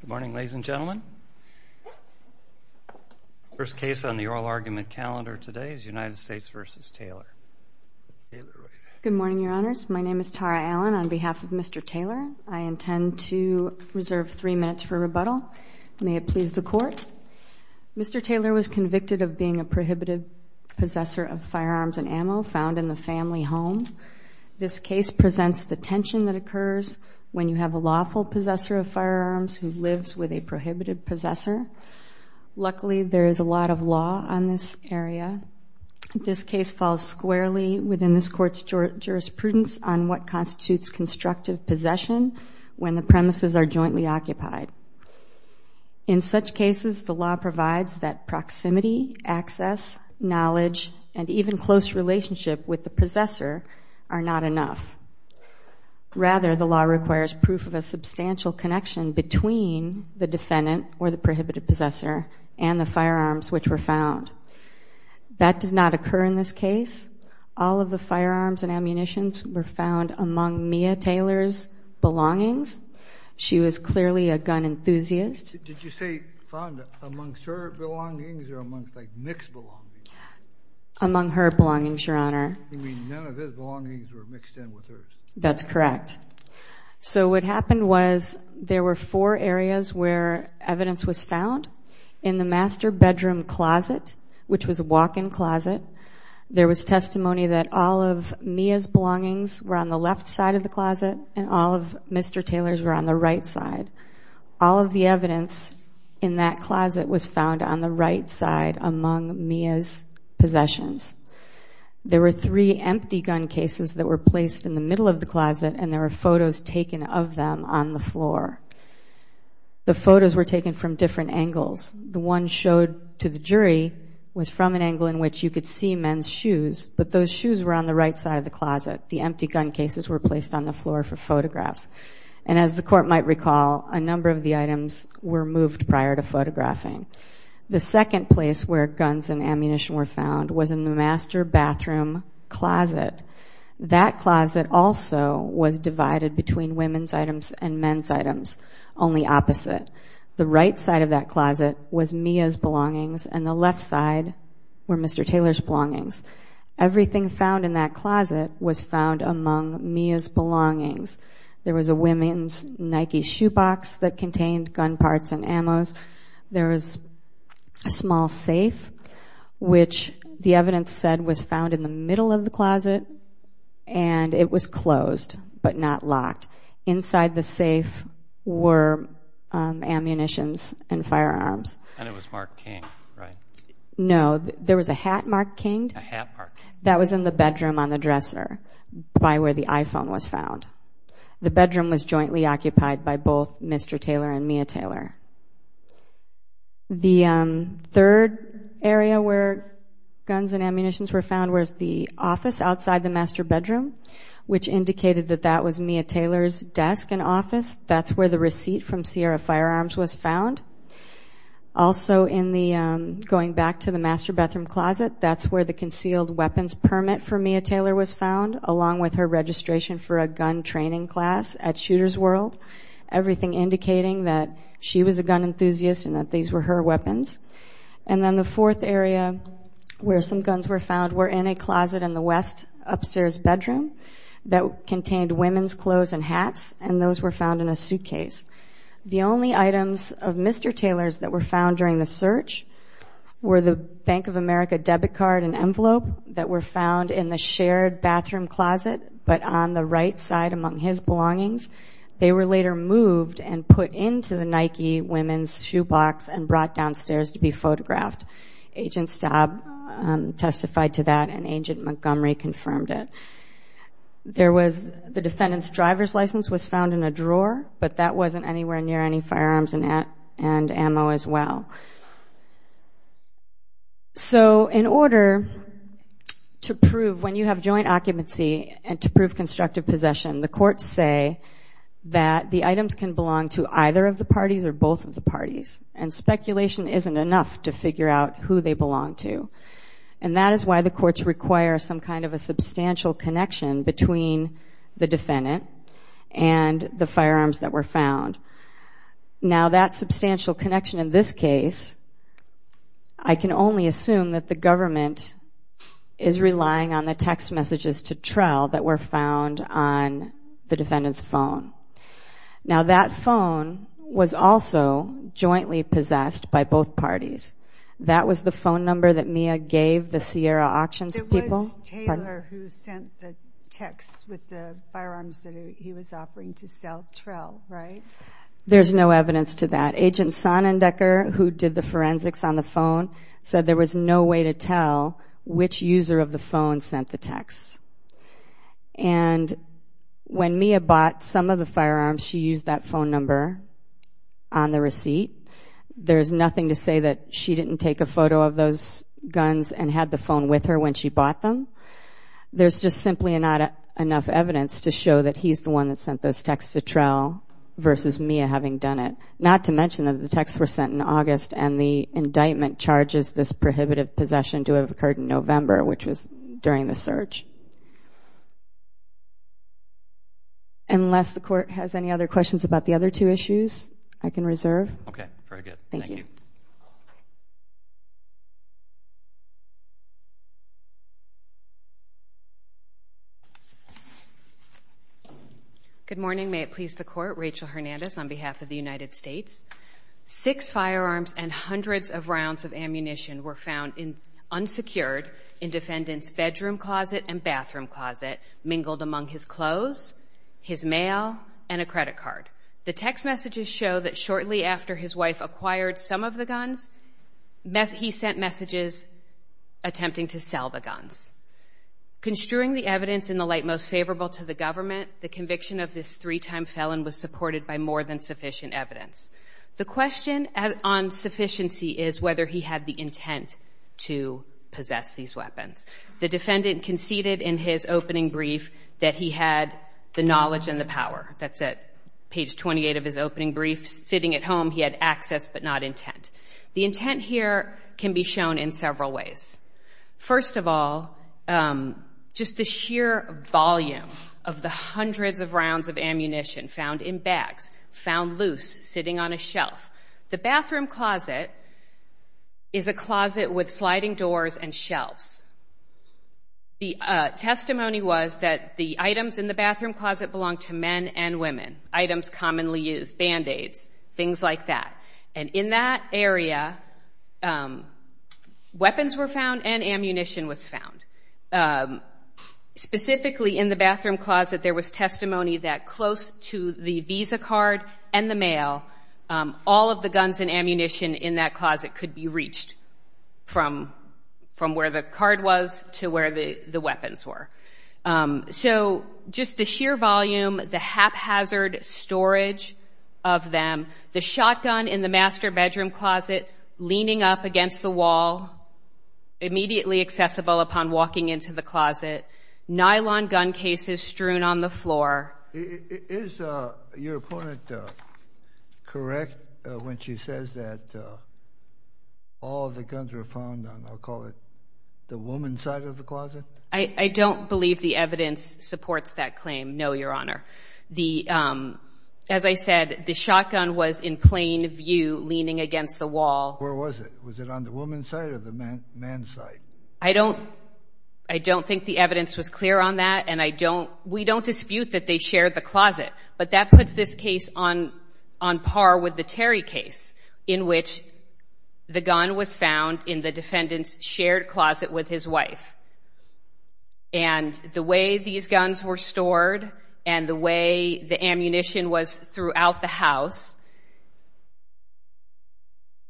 Good morning, ladies and gentlemen. First case on the oral argument calendar today is United States v. Taylor. Good morning, Your Honors. My name is Tara Allen. On behalf of Mr. Taylor, I intend to reserve three minutes for rebuttal. May it please the Court. Mr. Taylor was convicted of being a prohibited possessor of firearms and ammo found in the family home. This case presents the tension that occurs when you have a lawful possessor of firearms who lives with a prohibited possessor. Luckily, there is a lot of law on this area. This case falls squarely within this Court's jurisprudence on what constitutes constructive possession when the premises are jointly occupied. In such cases, the law provides that proximity, access, knowledge, and even close relationship with the possessor are not enough. Rather, the law requires proof of a substantial connection between the defendant or the prohibited possessor and the firearms which were found. That did not occur in this case. All of the firearms and ammunitions were found among Mia Taylor's belongings. She was clearly a gun enthusiast. Did you say found amongst her belongings or amongst like mixed belongings? Among her belongings, Your Honor. You mean none of his belongings were mixed in with hers? That's correct. So what happened was there were four areas where evidence was found. In the master bedroom closet, which was a walk-in closet, there was testimony that all of Mia's belongings were on the left side of the closet and all of Mr. Taylor's were on the right side. All of the evidence in that closet was found on the right side among Mia's possessions. There were three empty gun cases that were placed in the middle of the closet and there were photos taken of them on the floor. The photos were taken from different angles. The one showed to the jury was from an angle in which you could see men's shoes, but those shoes were on the right side of the closet. The empty gun cases were placed on the floor for photographs. And as the court might recall, a number of the items were moved prior to photographing. The second place where guns and ammunition were found was in the master bathroom closet. That closet also was divided between women's items and men's items, only opposite. The right side of that closet was Mia's belongings and the left side were Mr. Taylor's belongings. Everything found in that closet was found among Mia's belongings. There was a women's Nike shoe box that contained gun parts and ammos. There was a small safe which the evidence said was found in the middle of the closet and it was closed, but not locked. Inside the safe were ammunitions and firearms. And it was marked King, right? No, there was a hat marked King. A hat marked King. That was in the bedroom on the dresser by where the iPhone was found. The bedroom was jointly occupied by both Mr. Taylor and Mia Taylor. The third area where guns and ammunitions were found was the office outside the master bedroom, which indicated that that was Mia firearms was found. Also going back to the master bathroom closet, that's where the concealed weapons permit for Mia Taylor was found, along with her registration for a gun training class at Shooter's World. Everything indicating that she was a gun enthusiast and that these were her weapons. And then the fourth area where some guns were found were in a closet in the west upstairs bedroom that contained women's clothes and hats and those were found in a suitcase. The only items of Mr. Taylor's that were found during the search were the Bank of America debit card and envelope that were found in the shared bathroom closet, but on the right side among his belongings. They were later moved and put into the Nike women's shoe box and brought downstairs to be photographed. Agent Staub testified to that and Agent Montgomery confirmed it. There was the defendant's driver's license was found in a drawer, but that wasn't anywhere near any firearms and ammo as well. So in order to prove when you have joint occupancy and to prove constructive possession, the courts say that the items can belong to either of the parties or both of the parties and speculation isn't enough to figure out who they belong to. And that is why the courts require some kind of a substantial connection between the defendant and the firearms that were found. Now that substantial connection in this case, I can only assume that the government is relying on the text messages to Trowel that were found on the defendant's phone. Now that phone was also jointly possessed by both parties. That was the phone number that Mia gave the Sierra Auctions people. There's no evidence to that. Agent Sonnendecker, who did the forensics on the phone, said there was no way to tell which user of the phone sent the text. And when Mia bought some of the firearms, she used that phone number on the receipt. There's nothing to say that she didn't take a photo of those guns and had the phone with her when she bought them. There's just simply not enough evidence to show that he's the one that sent those texts to Trowel versus Mia having done it. Not to mention that the texts were sent in August and the indictment charges this prohibitive possession to have occurred in November, which was during the search. Unless the court has any other questions about the other two issues, I can reserve. Okay. Very good. Thank you. Good morning. May it please the Court. Rachel Hernandez on behalf of the United States. Six firearms and hundreds of rounds of ammunition were found unsecured in defendant's bedroom closet and bathroom closet, mingled among his clothes, his mail, and a credit card. The text messages show that shortly after his wife acquired some of the guns, he sent messages attempting to sell the guns. Construing the evidence in the light most favorable to the government, the conviction of this three-time felon was supported by more than sufficient evidence. The question on sufficiency is whether he had the intent to possess these weapons. The defendant conceded in his opening brief that he had the knowledge and the power. That's at page 28 of his opening brief. Sitting at home, he had access but not intent. The intent here can be shown in several ways. First of all, just the sheer volume of the hundreds of rounds of ammunition found in bags, found loose, sitting on a shelf. The bathroom closet is a closet with sliding doors and shelves. The testimony was that the items in the bathroom closet belonged to men and women. Items commonly used, band-aids, things like that. And in that area, weapons were found and ammunition was found. Specifically in the bathroom closet, there was testimony that close to the visa card and the mail, all of the guns and ammunition in that closet could be reached from where the card was to where the weapons were. So just the sheer volume, the haphazard storage of them, the shotgun in the master bedroom closet leaning up against the wall, immediately accessible upon walking into the closet, nylon gun cases strewn on the floor. Is your opponent correct when she says that all of the guns were found on, I'll call it, the woman's side of the closet? I don't believe the evidence supports that claim, no, Your Honor. As I said, the shotgun was in plain view leaning against the wall. Where was it? Was it on the woman's side or the man's side? I don't think the evidence was clear on that. We don't dispute that they shared the closet, but that puts this case on par with the Terry case in which the gun was found in the defendant's shared closet with his wife. And the way these guns were stored and the way the ammunition was throughout the house,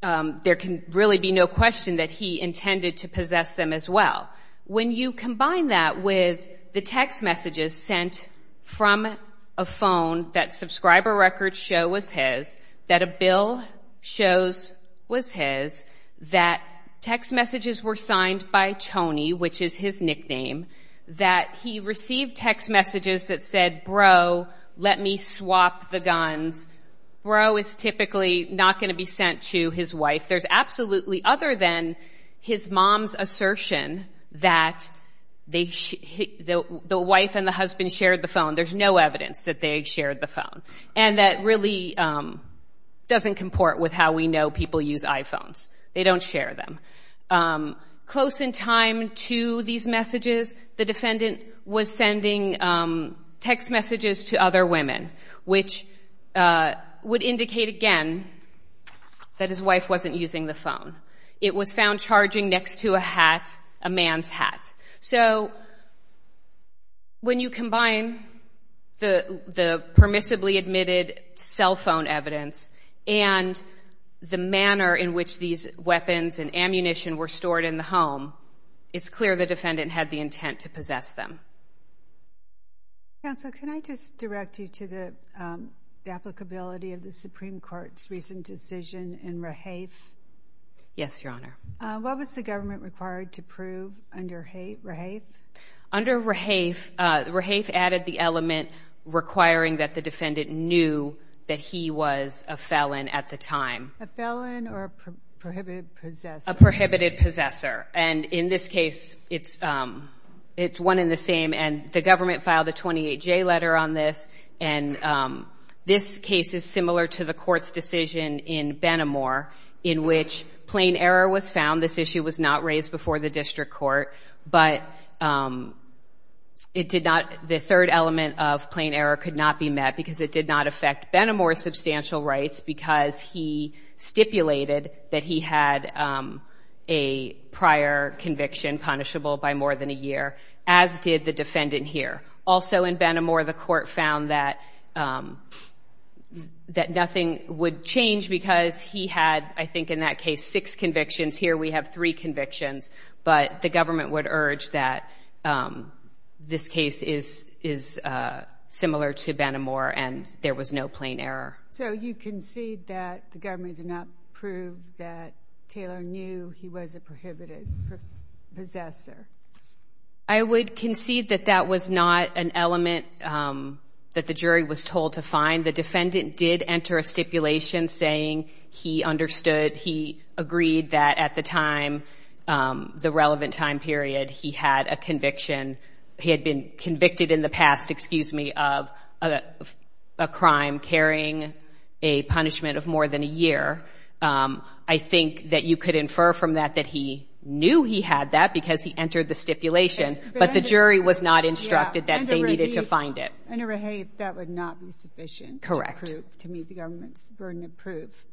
there can really be no question that he intended to possess them as well. When you combine that with the text messages sent from a phone that subscriber records show was his, that a bill shows was his, that text messages were signed by Tony, which is his nickname, that he received text messages that said, bro, let me swap the guns. Bro is typically not going to be sent to his wife. There's absolutely, other than his mom's assertion that the wife and the husband shared the phone, there's no evidence that they shared the phone. And that really doesn't comport with how we know people use iPhones. They don't share them. Close in time to these messages, the defendant was sending text messages to other women, which would indicate again that his wife wasn't using the phone. It was found charging next to a hat, a man's hat. So when you combine the permissibly admitted cell phone evidence and the manner in which these weapons and ammunition were stored in the home, it's clear the defendant had the intent to possess them. Counsel, can I just direct you to the applicability of the Supreme Court's recent decision in Rahafe? Yes, Your Honor. What was the government required to prove under Rahafe? Under Rahafe, Rahafe added the element requiring that the defendant knew that he was a felon at the time. A felon or a prohibited possessor? A prohibited possessor. And in this case, it's one and the same. And the government filed a 28-J letter on this. And this case is similar to the court's decision in Benamor in which plain error was found. This issue was not raised before the district court. But it did not, the third element of plain error could not be met because it did not affect Benamor's substantial rights because he stipulated that he had a prior conviction punishable by more than a year, as did the defendant here. Also in Benamor, the court found that nothing would change because he had, I think in that case, six convictions. Here we have three convictions. But the government would urge that this case is similar to Benamor and there was no plain error. So you concede that the government did not prove that Taylor knew he was a prohibited possessor? I would concede that that was not an element that the jury was told to find. The defendant did enter a stipulation saying he understood, he agreed that at the time, the relevant time period, he had a conviction, he had been convicted in the past, excuse me, of a crime carrying a punishment of more than a year. I think that you could infer from that that he knew he had that because he entered the stipulation, but the jury was not instructed that they needed to find it. And to rehave, that would not be sufficient to meet the government's burden of proof.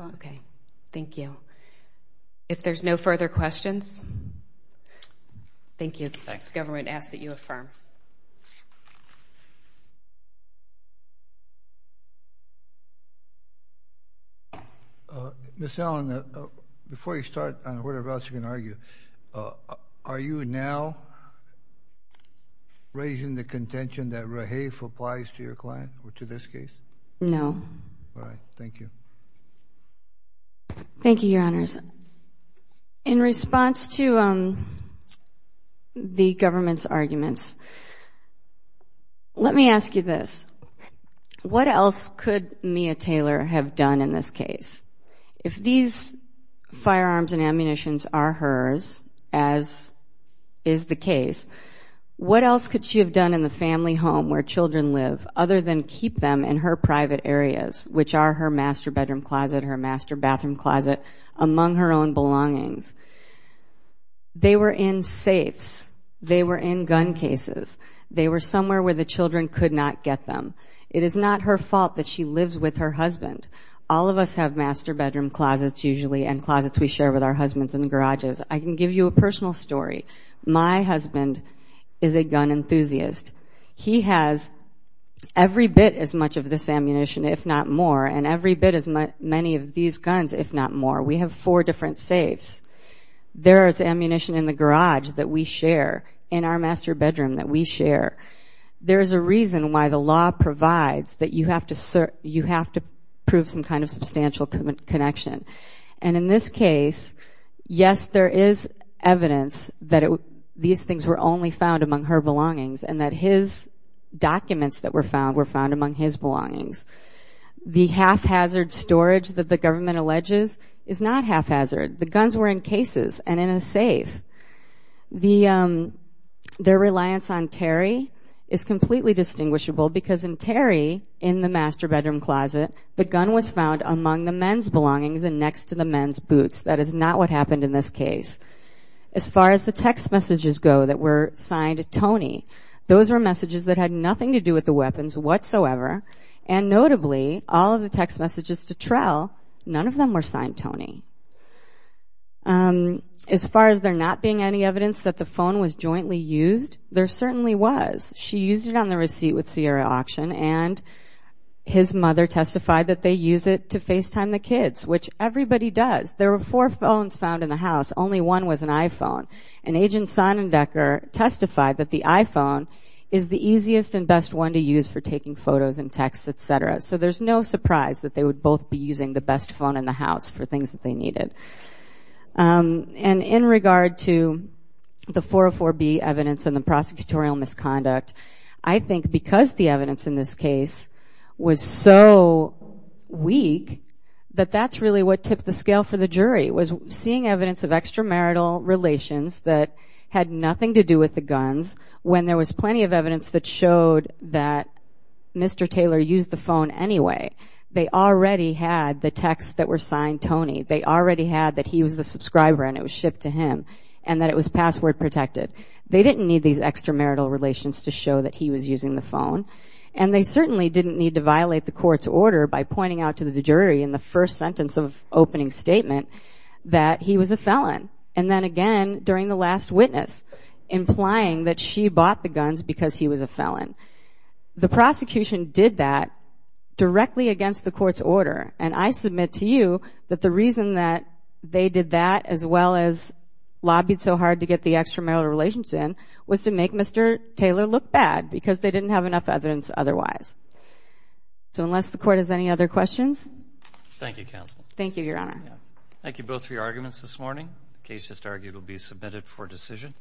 Okay, thank you. If there's no further questions, thank you. The government asks that you affirm. Ms. Allen, before you start on whatever else you're going to argue, are you now raising the contention that rehave applies to your client or to this case? No. All right, thank you. Thank you, Your Honors. In response to the government's arguments, let me ask you this. What else could Mia Taylor have done in this case? If these firearms and ammunitions are hers, as is the case, what else could she have done in the family home where children live other than keep them in her private areas, which are her master bedroom closet, her master bathroom closet, among her own belongings? They were in safes. They were in gun cases. They were somewhere where the children could not get them. It is not her fault that she lives with her husband. All of us have master bedroom closets, usually, and closets we share with our husbands in the garages. I can give you a personal story. My husband is a gun enthusiast. He has every bit as much of this ammunition, if not more, and every bit as many of these guns, if not more. We have four different safes. There is ammunition in the safe that we share. There is a reason why the law provides that you have to prove some kind of substantial connection. And in this case, yes, there is evidence that these things were only found among her belongings, and that his documents that were found were found among his belongings. The haphazard storage that the government alleges is not haphazard. The guns were in cases and in a safe. Their reliance on Terry is completely distinguishable because in Terry, in the master bedroom closet, the gun was found among the men's belongings and next to the men's boots. That is not what happened in this case. As far as the text messages go that were signed Tony, those were messages that had nothing to do with the weapons whatsoever. And notably, all of the text messages to Trel, none of them were signed Tony. As far as there not being any evidence that the phone was jointly used, there certainly was. She used it on the receipt with Sierra Auction, and his mother testified that they use it to FaceTime the kids, which everybody does. There were four phones found in the house. Only one was an iPhone. And Agent Sonnendecker testified that the iPhone is the easiest and easiest to use for taking photos and texts, etc. So there's no surprise that they would both be using the best phone in the house for things that they needed. And in regard to the 404B evidence and the prosecutorial misconduct, I think because the evidence in this case was so weak that that's really what tipped the scale for the jury, was seeing evidence of extramarital relations that had nothing to do with the guns when there was Mr. Taylor used the phone anyway. They already had the texts that were signed Tony. They already had that he was the subscriber and it was shipped to him, and that it was password protected. They didn't need these extramarital relations to show that he was using the phone. And they certainly didn't need to violate the court's order by pointing out to the jury in the first sentence of opening statement that he was a felon. And then again, during the last witness, implying that she bought the guns because he was a felon. The prosecution did that directly against the court's order. And I submit to you that the reason that they did that, as well as lobbied so hard to get the extramarital relations in, was to make Mr. Taylor look bad because they didn't have enough evidence otherwise. So unless the court has any other questions? Thank you, Counsel. Thank you, Your Honor. Thank you both for your arguments this morning. The case just argued will be submitted for decision.